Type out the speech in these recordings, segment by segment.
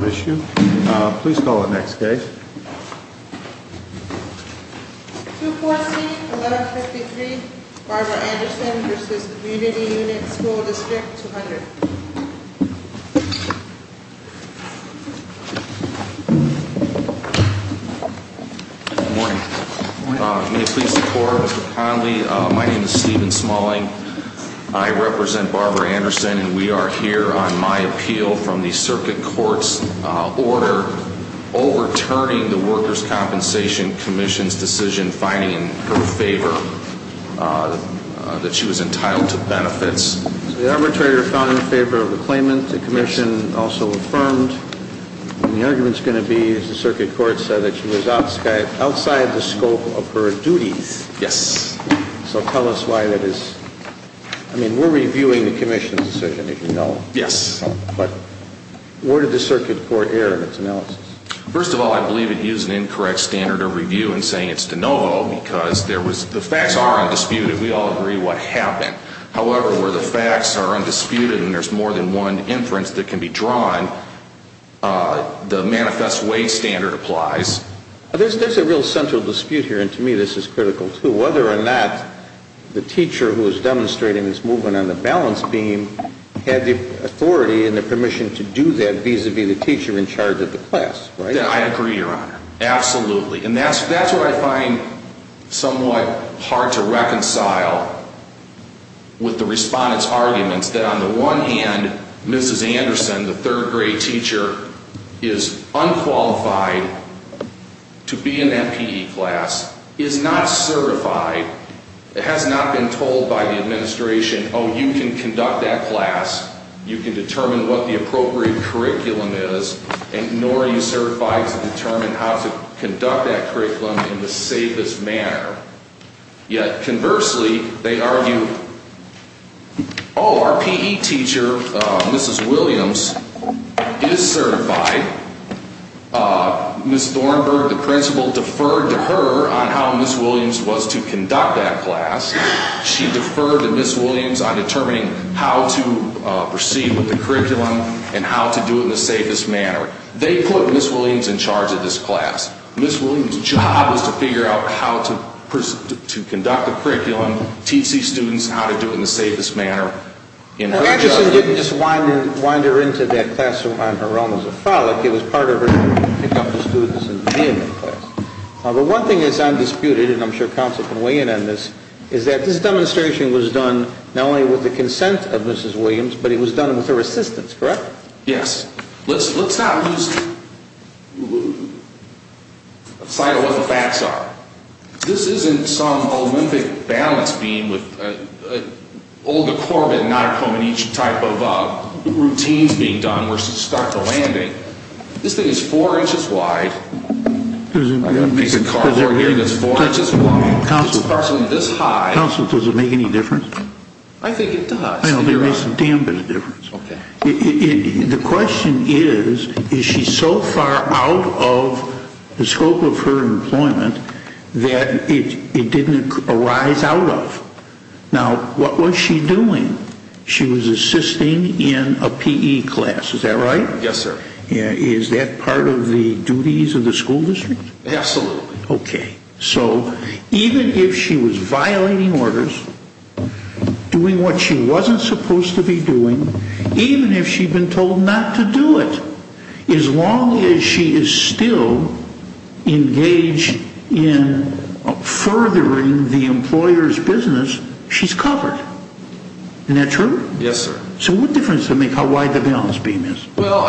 Issue. Please call the next case. 2-4-C, 11-53, Barbara Anderson v. Community Unit, School District, 200. Good morning. May it please the Court, Mr. Conley, my name is Stephen Smalling. I represent Barbara Anderson and we are here on my appeal from the Circuit Court's order overturning the Workers' Compensation Commission's decision finding in her favor that she was entitled to benefits. The arbitrator found in favor of the claimant, the Commission also affirmed, and the argument is going to be that the Circuit Court said that she was outside the scope of her duties. Yes. So tell us why that is. I mean, we're reviewing the Commission's decision, if you know. Yes. But where did the Circuit Court err in its analysis? First of all, I believe it used an incorrect standard of review in saying it's de novo because the facts are undisputed. We all agree what happened. However, where the facts are undisputed and there's more than one inference that can be drawn, the manifest way standard applies. There's a real central dispute here, and to me this is critical too, whether or not the teacher who is demonstrating this movement on the balance beam had the authority and the permission to do that vis-a-vis the teacher in charge of the class, right? I agree, Your Honor. Absolutely. And that's what I find somewhat hard to reconcile with the respondent's arguments, that on the one hand, Mrs. Anderson, the third grade teacher, is unqualified to be in that PE class, is not certified, has not been told by the administration, oh, you can conduct that class, you can determine what the appropriate curriculum is, nor are you certified to determine how to conduct that curriculum in the safest manner. Yet conversely, they argue, oh, our PE teacher, Mrs. Williams, is certified. Ms. Thornburg, the principal, deferred to her on how Ms. Williams was to conduct that class. She deferred to Ms. Williams on determining how to proceed with the curriculum and how to do it in the safest manner. They put Ms. Williams in charge of this class. Ms. Williams' job was to figure out how to conduct the curriculum, teach these students how to do it in the safest manner. And Anderson didn't just wind her into that classroom on her own as a frolic. It was part of her to pick up the students and be in that class. But one thing that's undisputed, and I'm sure counsel can weigh in on this, is that this demonstration was done not only with the consent of Mrs. Williams, but it was done with her assistance, correct? Yes. Let's not lose sight of what the facts are. This isn't some Olympic balance beam with all the corbet and nauticum and each type of routine being done to start the landing. This thing is four inches wide. I've got a piece of cardboard here that's four inches long. It's approximately this high. Counsel, does it make any difference? I think it does. It makes a damn bit of difference. Okay. The question is, is she so far out of the scope of her employment that it didn't arise out of? Now, what was she doing? She was assisting in a PE class. Is that right? Yes, sir. Is that part of the duties of the school district? Absolutely. Okay. So even if she was violating orders, doing what she wasn't supposed to be doing, even if she'd been told not to do it, as long as she is still engaged in furthering the employer's business, she's covered. Isn't that true? Yes, sir. So what difference does it make how wide the balance beam is? Well,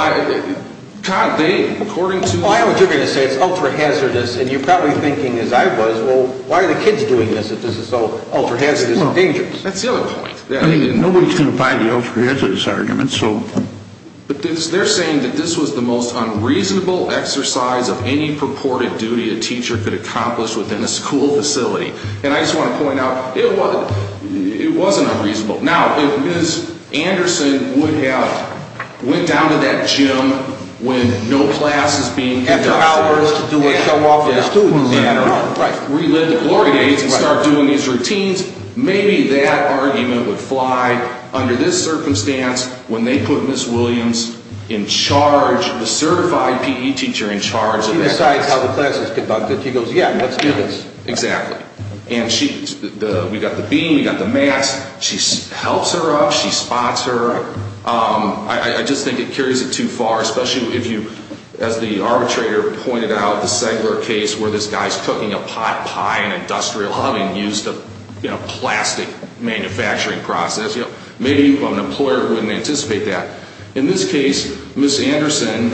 Todd, they, according to... Well, I know what you're going to say. It's ultra-hazardous. And you're probably thinking, as I was, well, why are the kids doing this if this is so ultra-hazardous and dangerous? That's the other point. I mean, nobody's going to buy the ultra-hazardous argument, so... But they're saying that this was the most unreasonable exercise of any purported duty a teacher could accomplish within a school facility. And I just want to point out, it wasn't unreasonable. Now, if Ms. Anderson would have went down to that gym when no class is being conducted... After hours to do a show off with the students. Right. Relive the glory days and start doing these routines, maybe that argument would fly under this circumstance when they put Ms. Williams in charge, the certified PE teacher in charge... She decides how the class is conducted. She goes, yeah, let's do this. Exactly. And we've got the beam, we've got the mats. She helps her up. She spots her. I just think it carries it too far, especially if you, as the arbitrator pointed out, the Segler case where this guy's cooking a pot pie in an industrial oven and used a plastic manufacturing process. Maybe an employer wouldn't anticipate that. In this case, Ms. Anderson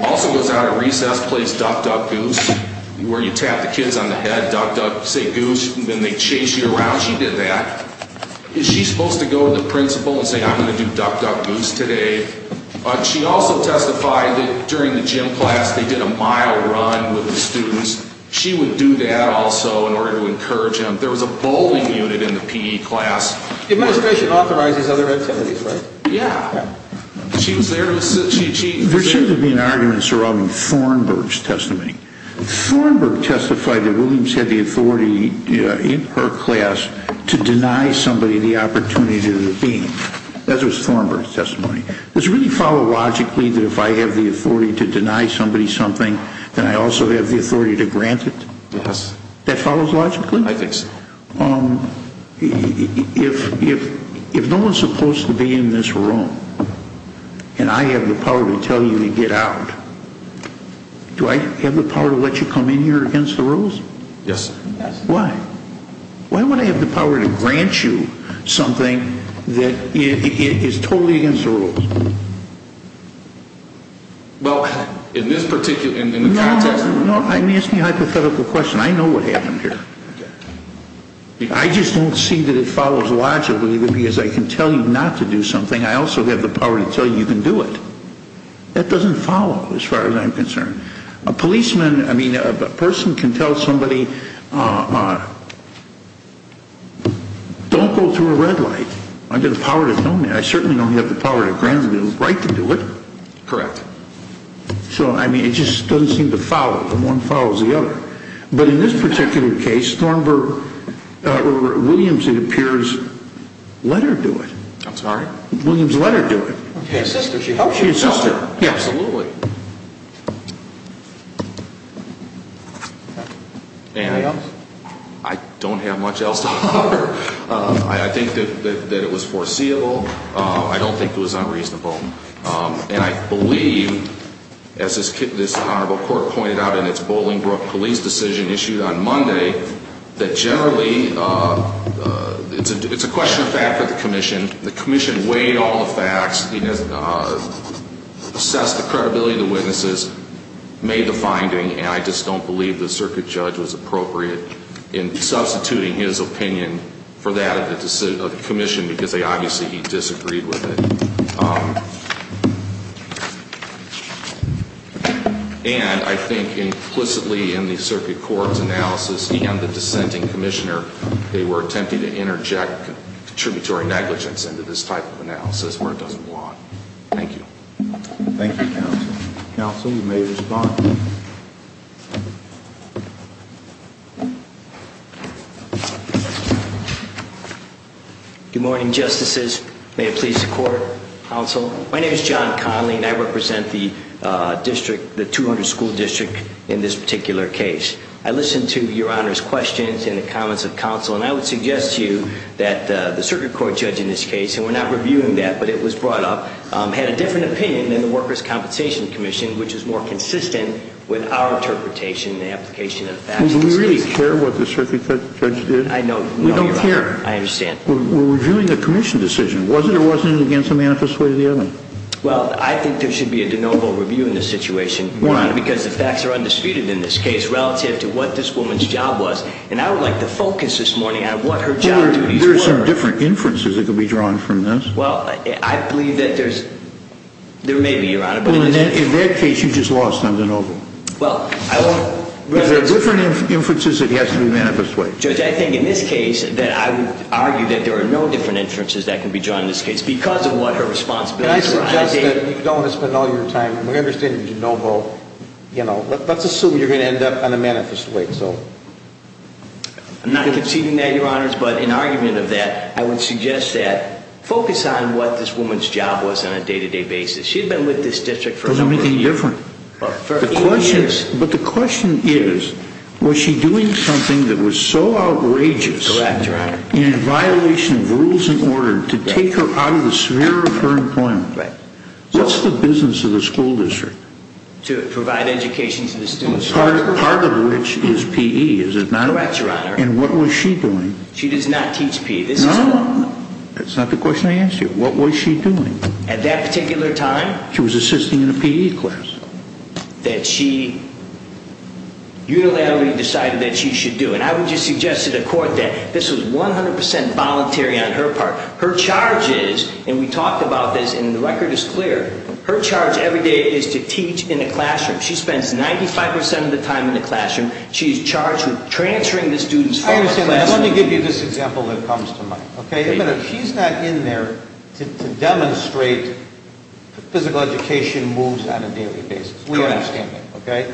also goes out at recess, plays duck, duck, goose, where you tap the kids on the head, duck, duck, say goose, and then they chase you around. She did that. Is she supposed to go to the principal and say, I'm going to do duck, duck, goose today? She also testified that during the gym class they did a mile run with the students. She would do that also in order to encourage them. There was a bowling unit in the PE class. The administration authorizes other activities, right? Yeah. She was there. There seems to be an argument surrounding Thornburg's testimony. Thornburg testified that Williams had the authority in her class to deny somebody the opportunity to do the beam. That was Thornburg's testimony. Does it really follow logically that if I have the authority to deny somebody something, then I also have the authority to grant it? Yes. That follows logically? I think so. If no one is supposed to be in this room and I have the power to tell you to get out, do I have the power to let you come in here against the rules? Yes. Why? Why would I have the power to grant you something that is totally against the rules? Well, in this particular context? No, I'm asking a hypothetical question. I know what happened here. I just don't see that it follows logically that because I can tell you not to do something, I also have the power to tell you you can do it. That doesn't follow as far as I'm concerned. A policeman, I mean, a person can tell somebody, don't go through a red light. I have the power to tell you. I certainly don't have the power to grant you the right to do it. Correct. So, I mean, it just doesn't seem to follow. One follows the other. But in this particular case, Williams, it appears, let her do it. I'm sorry? Williams let her do it. Okay. A sister. She helps you. She's a sister. Absolutely. Anybody else? I don't have much else to offer. I think that it was foreseeable. I don't think it was unreasonable. And I believe, as this honorable court pointed out in its Bolingbrook police decision issued on Monday, that generally it's a question of fact for the commission. The commission weighed all the facts, assessed the credibility of the witnesses, made the finding. And I just don't believe the circuit judge was appropriate in substituting his opinion for that of the commission because obviously he disagreed with it. And I think implicitly in the circuit court's analysis and the dissenting commissioner, they were attempting to interject contributory negligence into this type of analysis where it doesn't belong. Thank you. Thank you, counsel. Counsel, you may respond. Good morning, justices. May it please the court, counsel. My name is John Conley, and I represent the district, the 200 school district in this particular case. I listened to your honor's questions and the comments of counsel, and I would suggest to you that the circuit court judge in this case, and we're not reviewing that, but it was brought up, had a different opinion than the Workers' Compensation Commission, which is more consistent with our interpretation and application of the facts. Do we really care what the circuit judge did? I know. We don't care. I understand. We're reviewing the commission decision. Was it or wasn't it against the manifest way of the evidence? Well, I think there should be a de novo review in this situation. Why? Because the facts are undisputed in this case relative to what this woman's job was. And I would like to focus this morning on what her job duties were. There are some different inferences that could be drawn from this. Well, I believe that there's, there may be, your honor. In that case, you just lost on de novo. Well, I won't reference. There are different inferences it has to be manifest way. Judge, I think in this case that I would argue that there are no different inferences that can be drawn in this case because of what her responsibilities were. And I suggest that you don't want to spend all your time, and we understand de novo, you know, let's assume you're going to end up on a manifest way. I'm not conceding that, your honors. But in argument of that, I would suggest that focus on what this woman's job was on a day-to-day basis. She had been with this district for a number of years. Was there anything different? For 18 years. But the question is, was she doing something that was so outrageous and in violation of rules and order to take her out of the sphere of her employment? Right. What's the business of the school district? To provide education to the students. Part of which is P.E., is it not? Correct, your honor. And what was she doing? She does not teach P.E. No, no, no. That's not the question I asked you. What was she doing? At that particular time. She was assisting in a P.E. class. That she unilaterally decided that she should do. And I would just suggest to the court that this was 100% voluntary on her part. Her charge is, and we talked about this and the record is clear, her charge every day is to teach in the classroom. She spends 95% of the time in the classroom. She's charged with transferring the students from her classroom. I understand that. Let me give you this example that comes to mind. She's not in there to demonstrate physical education moves on a daily basis. We understand that.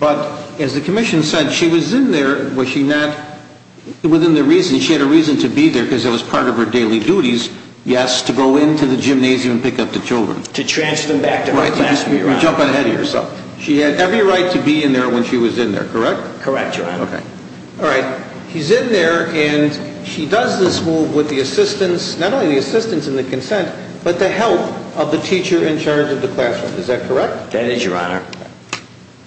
But as the commission said, she was in there within the reason. She had a reason to be there because it was part of her daily duties. Yes, to go into the gymnasium and pick up the children. To transfer them back to her classroom. She had every right to be in there when she was in there, correct? Correct, your honor. All right. She's in there and she does this move with the assistance, not only the assistance and the consent, but the help of the teacher in charge of the classroom. Is that correct? That is, your honor.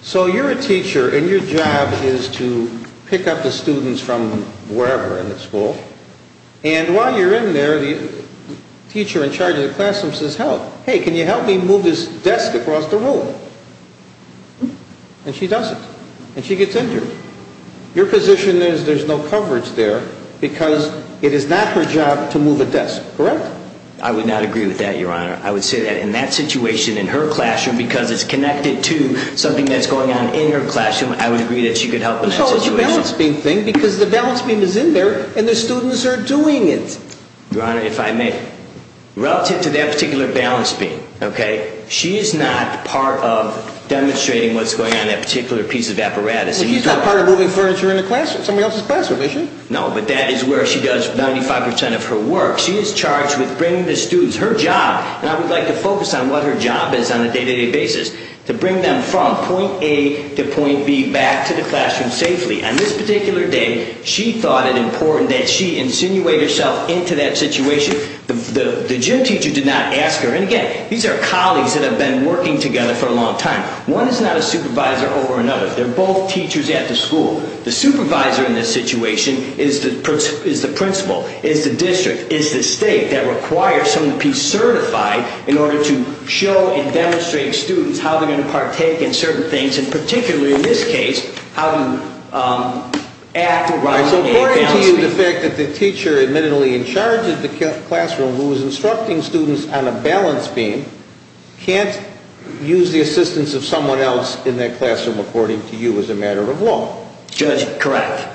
So you're a teacher and your job is to pick up the students from wherever in the school. And while you're in there, the teacher in charge of the classroom says, Hey, can you help me move this desk across the room? And she does it. And she gets injured. Your position is there's no coverage there because it is not her job to move a desk, correct? I would not agree with that, your honor. I would say that in that situation, in her classroom, because it's connected to something that's going on in her classroom, I would agree that she could help in that situation. Because it's a balance beam thing. Because the balance beam is in there and the students are doing it. Your honor, if I may, relative to that particular balance beam, she is not part of demonstrating what's going on in that particular piece of apparatus. She's not part of moving furniture in the classroom. Somebody else's classroom, is she? No, but that is where she does 95% of her work. She is charged with bringing the students, her job, and I would like to focus on what her job is on a day-to-day basis, to bring them from point A to point B back to the classroom safely. On this particular day, she thought it important that she insinuate herself into that situation. The gym teacher did not ask her. And again, these are colleagues that have been working together for a long time. One is not a supervisor over another. They're both teachers at the school. The supervisor in this situation is the principal, is the district, is the state that requires someone to be certified in order to show and demonstrate to students how they're going to partake in certain things. And particularly in this case, how to act around a balance beam. So according to you, the fact that the teacher admittedly in charge of the classroom, who was instructing students on a balance beam, can't use the assistance of someone else in that classroom, according to you, as a matter of law? Judge, correct.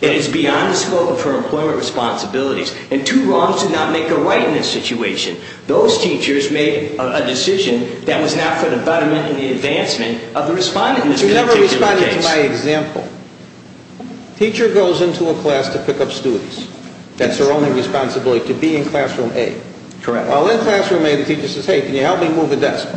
It is beyond the scope of her employment responsibilities. And two wrongs do not make a right in this situation. Those teachers made a decision that was not for the betterment and the advancement of the respondent in this particular case. She never responded to my example. Teacher goes into a class to pick up students. That's her only responsibility, to be in classroom A. Correct. While in classroom A, the teacher says, hey, can you help me move the desk?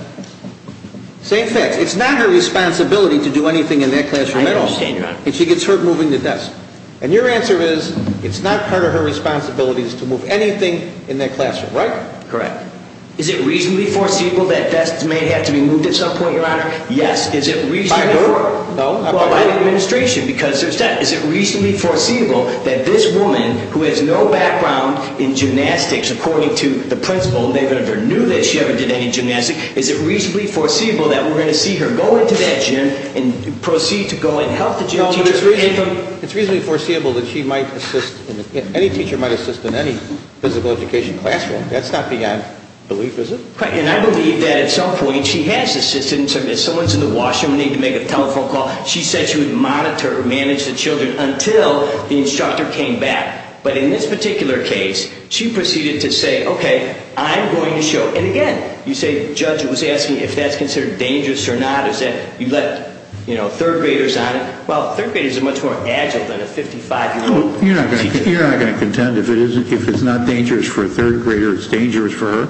Same thing. It's not her responsibility to do anything in that classroom at all. I understand, Your Honor. And she gets hurt moving the desk. And your answer is, it's not part of her responsibilities to move anything in that classroom, right? Correct. Is it reasonably foreseeable that desks may have to be moved at some point, Your Honor? Yes. By who? By the administration, because there's that. Is it reasonably foreseeable that this woman, who has no background in gymnastics, according to the principal, and they never knew that she ever did any gymnastics, is it reasonably foreseeable that we're going to see her go into that gym and proceed to go and help the gym teacher? It's reasonably foreseeable that any teacher might assist in any physical education classroom. That's not beyond belief, is it? Correct. And I believe that at some point she has assisted. If someone's in the washroom and they need to make a telephone call, she said she would monitor or manage the children until the instructor came back. But in this particular case, she proceeded to say, okay, I'm going to show. And again, you say the judge was asking if that's considered dangerous or not. Is that you let third graders on it? Well, third graders are much more agile than a 55-year-old. You're not going to contend if it's not dangerous for a third grader, it's dangerous for her?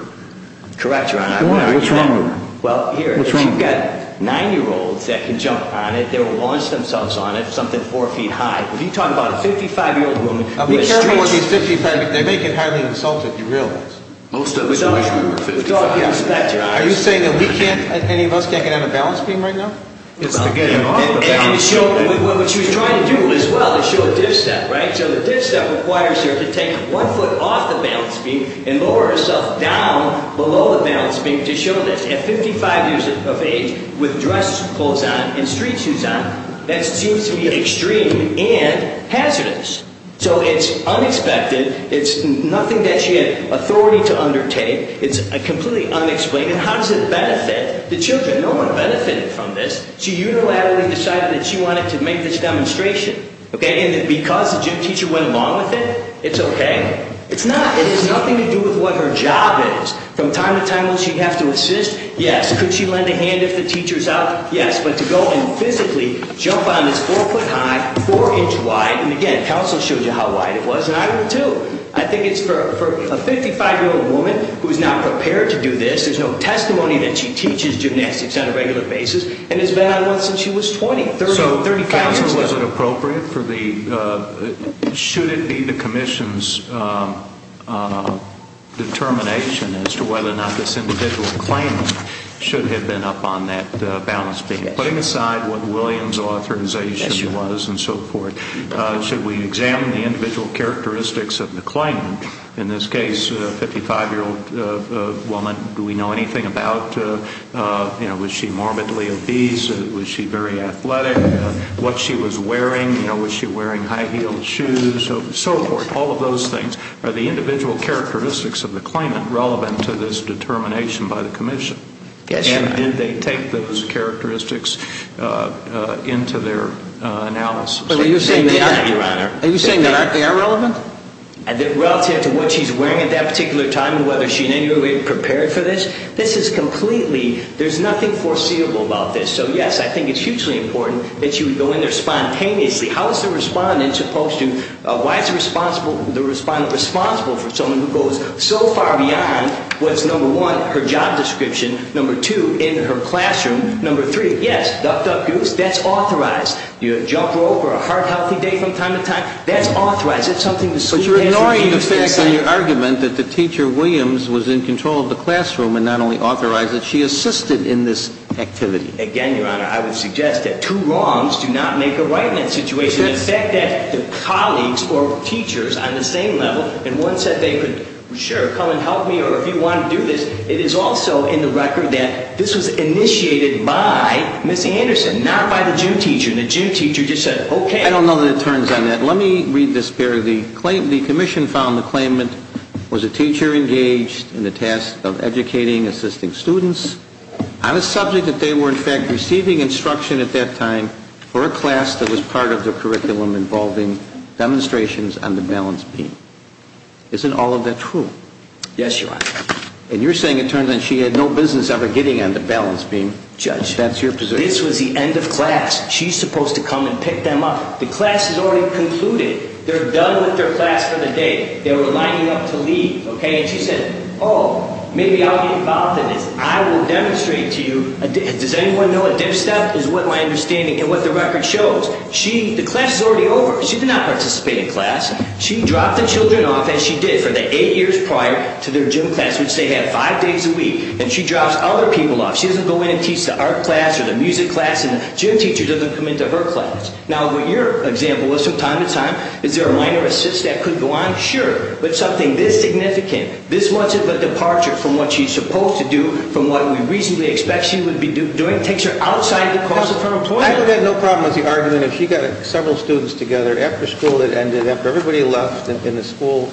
Correct, Your Honor. Why? What's wrong with her? Well, here, if you've got nine-year-olds that can jump on it, they'll launch themselves on it something four feet high. When you talk about a 55-year-old woman who is strange. Be careful with these 55-year-olds. They may get highly insulted, if you realize. Most of us in the washroom are 55. Are you saying that any of us can't get on a balance beam right now? What she was trying to do as well is show a dip step, right? So the dip step requires her to take one foot off the balance beam and lower herself down below the balance beam to show that at 55 years of age, with dress clothes on and street shoes on, that seems to be extreme and hazardous. So it's unexpected. It's nothing that she had authority to undertake. It's completely unexplained. And how does it benefit the children? No one benefited from this. She unilaterally decided that she wanted to make this demonstration. Okay? And because the gym teacher went along with it, it's okay. It's not. It has nothing to do with what her job is. From time to time, will she have to assist? Yes. Could she lend a hand if the teacher's out? Yes. But to go and physically jump on this four foot high, four inch wide. And again, counsel showed you how wide it was. And I don't know, too. I think it's for a 55-year-old woman who is not prepared to do this. There's no testimony that she teaches gymnastics on a regular basis. And it's been on since she was 20. So, counsel, was it appropriate for the, should it be the commission's determination as to whether or not this individual claimant should have been up on that balance beam? Putting aside what William's authorization was and so forth, should we examine the individual characteristics of the claimant? In this case, a 55-year-old woman, do we know anything about, you know, was she morbidly obese? Was she very athletic? What she was wearing? You know, was she wearing high-heeled shoes? So forth. All of those things. Are the individual characteristics of the claimant relevant to this determination by the commission? Yes, Your Honor. And did they take those characteristics into their analysis? But are you saying they are, Your Honor? Are you saying they are relevant? Relative to what she's wearing at that particular time and whether she in any way prepared for this? This is completely, there's nothing foreseeable about this. So, yes, I think it's hugely important that she would go in there spontaneously. How is the respondent supposed to, why is the respondent responsible for someone who goes so far beyond what's, number one, her job description, number two, in her classroom, number three, yes, ducked up goose, that's authorized. Jump rope or a heart-healthy day from time to time, that's authorized. It's something the school has to do. But you're ignoring the fact in your argument that the teacher, Williams, was in control of the classroom and not only authorized it, she assisted in this activity. Again, Your Honor, I would suggest that two wrongs do not make a right in that situation. The fact that the colleagues or teachers on the same level, and one said they could, sure, come and help me or if you want to do this, it is also in the record that this was initiated by Ms. Anderson, not by the gym teacher. And the gym teacher just said, okay. I don't know that it turns on that. Let me read this paragraph. The commission found the claimant was a teacher engaged in the task of educating, assisting students on a subject that they were, in fact, receiving instruction at that time for a class that was part of the curriculum involving demonstrations on the balance beam. Isn't all of that true? Yes, Your Honor. And you're saying it turns out she had no business ever getting on the balance beam. Judge, this was the end of class. She's supposed to come and pick them up. The class has already concluded. They're done with their class for the day. They were lining up to leave. And she said, oh, maybe I'll get involved in this. I will demonstrate to you. Does anyone know a dip step is what my understanding and what the record shows. The class is already over. She did not participate in class. She dropped the children off, as she did, for the eight years prior to their gym class, which they have five days a week, and she drops other people off. She doesn't go in and teach the art class or the music class, and the gym teacher doesn't come into her class. Now, what your example is from time to time, is there a minor assist that could go on? Sure. But something this significant, this much of a departure from what she's supposed to do, from what we reasonably expect she would be doing, takes her outside the course of her employment. I would have had no problem with the argument if she got several students together after school that ended after everybody left in the school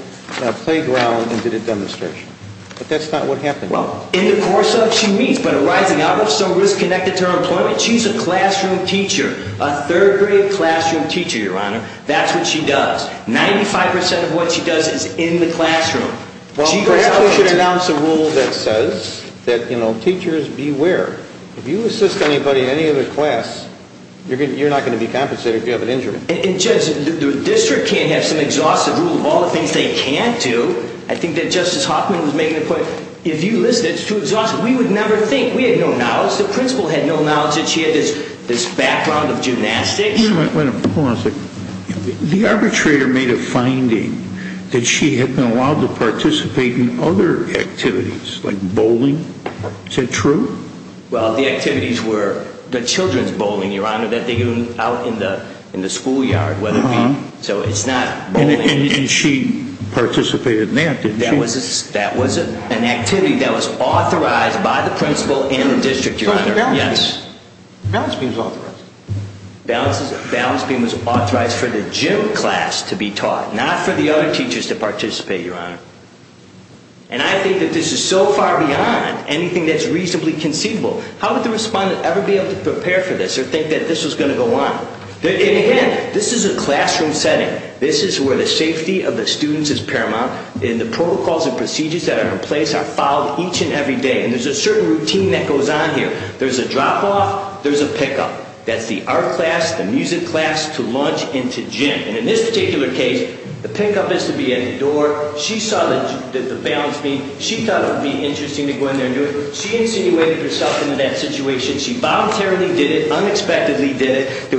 playground and did a demonstration. But that's not what happened. Well, in the course of she meets, but arising out of some risk connected to her employment, she's a classroom teacher, a third grade classroom teacher, Your Honor. That's what she does. Ninety-five percent of what she does is in the classroom. Well, perhaps we should announce a rule that says that, you know, teachers beware. If you assist anybody in any other class, you're not going to be compensated if you have an injury. And Judge, the district can't have some exhaustive rule of all the things they can't do. I think that Justice Hoffman was making a point. If you listen, it's too exhaustive. We would never think. We had no knowledge. The principal had no knowledge that she had this background of gymnastics. Wait a minute. Hold on a second. The arbitrator made a finding that she had been allowed to participate in other activities, like bowling. Is that true? Well, the activities were the children's bowling, Your Honor, that they do out in the schoolyard. So it's not bowling. And she participated in that, didn't she? That was an activity that was authorized by the principal and the district, Your Honor. Balance beam was authorized. Balance beam was authorized for the gym class to be taught, not for the other teachers to participate, Your Honor. And I think that this is so far beyond anything that's reasonably conceivable. How would the respondent ever be able to prepare for this or think that this was going to go on? And again, this is a classroom setting. This is where the safety of the students is paramount. And the protocols and procedures that are in place are followed each and every day. And there's a certain routine that goes on here. There's a drop-off. There's a pick-up. That's the art class, the music class, to lunch and to gym. And in this particular case, the pick-up is to be at the door. She saw the balance beam. She thought it would be interesting to go in there and do it. She insinuated herself into that situation. There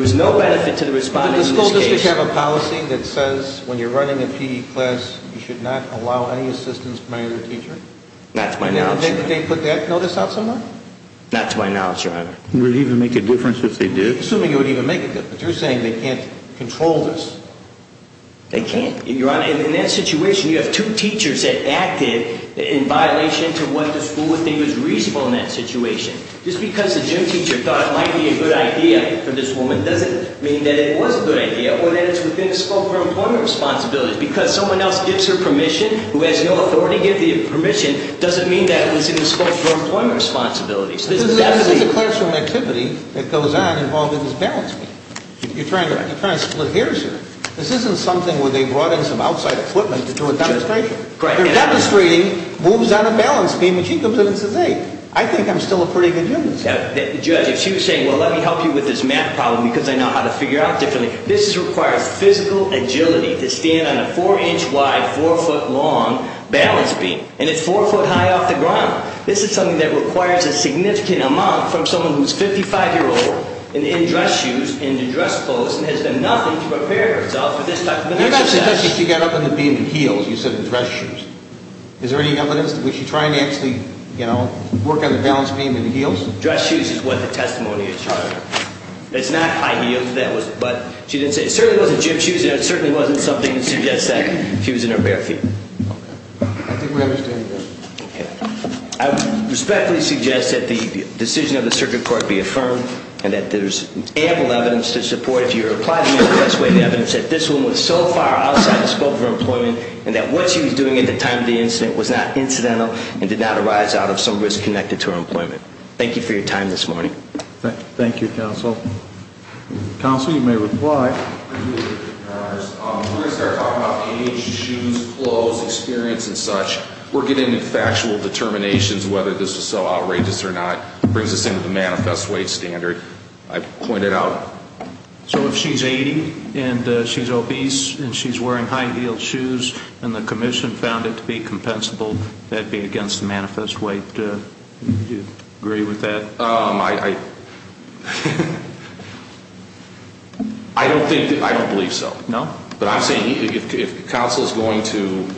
was no benefit to the respondent in this case. Does the school district have a policy that says when you're running a PE class, you should not allow any assistance from any other teacher? Not to my knowledge, Your Honor. Did they put that notice out somewhere? Not to my knowledge, Your Honor. Would it even make a difference if they did? Assuming it would even make a difference. You're saying they can't control this? They can't. Your Honor, in that situation, you have two teachers that acted in violation to what the school would think was reasonable in that situation. Just because the gym teacher thought it might be a good idea for this woman doesn't mean that it was a good idea or that it's within the scope of her employment responsibilities. Because someone else gives her permission who has no authority to give the permission doesn't mean that it was in the scope of her employment responsibilities. This is a classroom activity that goes on involving this balance beam. You're trying to split hairs here. This isn't something where they brought in some outside equipment to do a demonstration. They're demonstrating, moves on a balance beam, and she comes in and says, I think I'm still a pretty good gymnast. Judge, if she was saying, well, let me help you with this math problem because I know how to figure out differently, this requires physical agility to stand on a four-inch-wide, four-foot-long balance beam. And it's four foot high off the ground. This is something that requires a significant amount from someone who's 55 years old and in dress shoes and in dress clothes and has done nothing to prepare herself for this type of exercise. You're not suggesting she got up on the beam in heels, you said in dress shoes. Is there any evidence? Was she trying to actually, you know, work on the balance beam in heels? Dress shoes is what the testimony is. It's not high heels, but she didn't say it certainly wasn't gym shoes. It certainly wasn't something that suggests that she was in her bare feet. Okay. I think we understand that. Okay. I respectfully suggest that the decision of the circuit court be affirmed and that there's ample evidence to support, that this woman was so far outside the scope of her employment and that what she was doing at the time of the incident was not incidental and did not arise out of some risk connected to her employment. Thank you for your time this morning. Thank you, counsel. Counsel, you may reply. We're going to start talking about age, shoes, clothes, experience, and such. We're getting into factual determinations whether this was so outrageous or not. It brings us into the manifest weight standard. I pointed out. So if she's 80 and she's obese and she's wearing high-heeled shoes and the commission found it to be compensable, that would be against the manifest weight. Do you agree with that? I don't believe so. No? But I'm saying if counsel is going to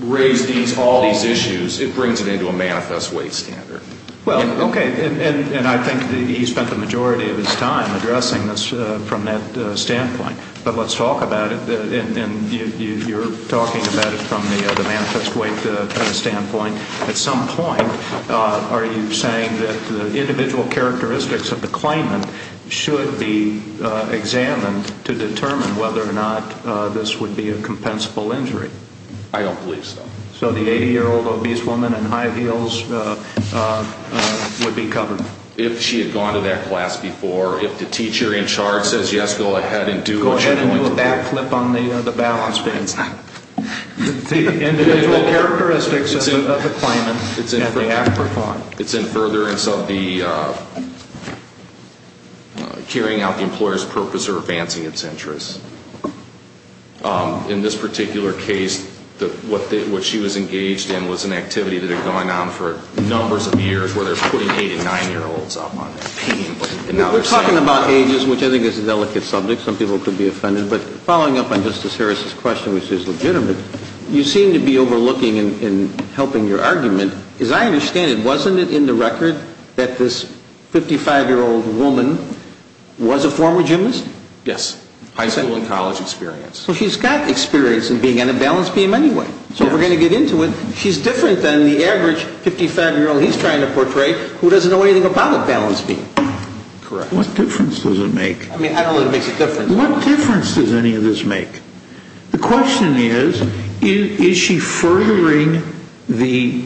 raise all these issues, it brings it into a manifest weight standard. Well, okay. And I think he spent the majority of his time addressing this from that standpoint. But let's talk about it. And you're talking about it from the manifest weight standpoint. At some point, are you saying that the individual characteristics of the claimant should be examined to determine whether or not this would be a compensable injury? I don't believe so. So the 80-year-old obese woman in high heels would be covered? If she had gone to that class before. If the teacher in charge says, yes, go ahead and do what you're going to do. Go ahead and do a backflip on the balance beam. The individual characteristics of the claimant and the afterthought. It's in furtherance of the carrying out the employer's purpose or advancing its interests. In this particular case, what she was engaged in was an activity that had gone on for numbers of years where they're putting 8- and 9-year-olds up on pain. We're talking about ages, which I think is a delicate subject. Some people could be offended. But following up on Justice Harris's question, which is legitimate, you seem to be overlooking and helping your argument. As I understand it, wasn't it in the record that this 55-year-old woman was a former gymnast? Yes. High school and college experience. So she's got experience in being on a balance beam anyway. So we're going to get into it. She's different than the average 55-year-old he's trying to portray who doesn't know anything about a balance beam. Correct. What difference does it make? I mean, I don't know if it makes a difference. What difference does any of this make? The question is, is she furthering the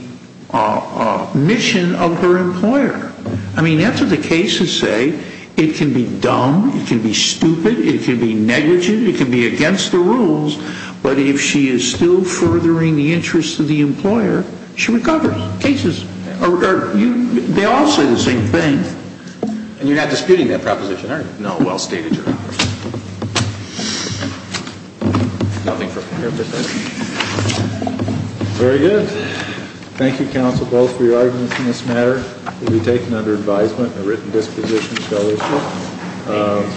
mission of her employer? I mean, that's what the cases say. It can be dumb. It can be stupid. It can be negligent. It can be against the rules. But if she is still furthering the interest of the employer, she recovers. They all say the same thing. And you're not disputing that proposition, are you? No, well stated, Your Honor. Very good. Thank you, counsel, both for your arguments in this matter. It will be taken under advisement and a written disposition shall issue.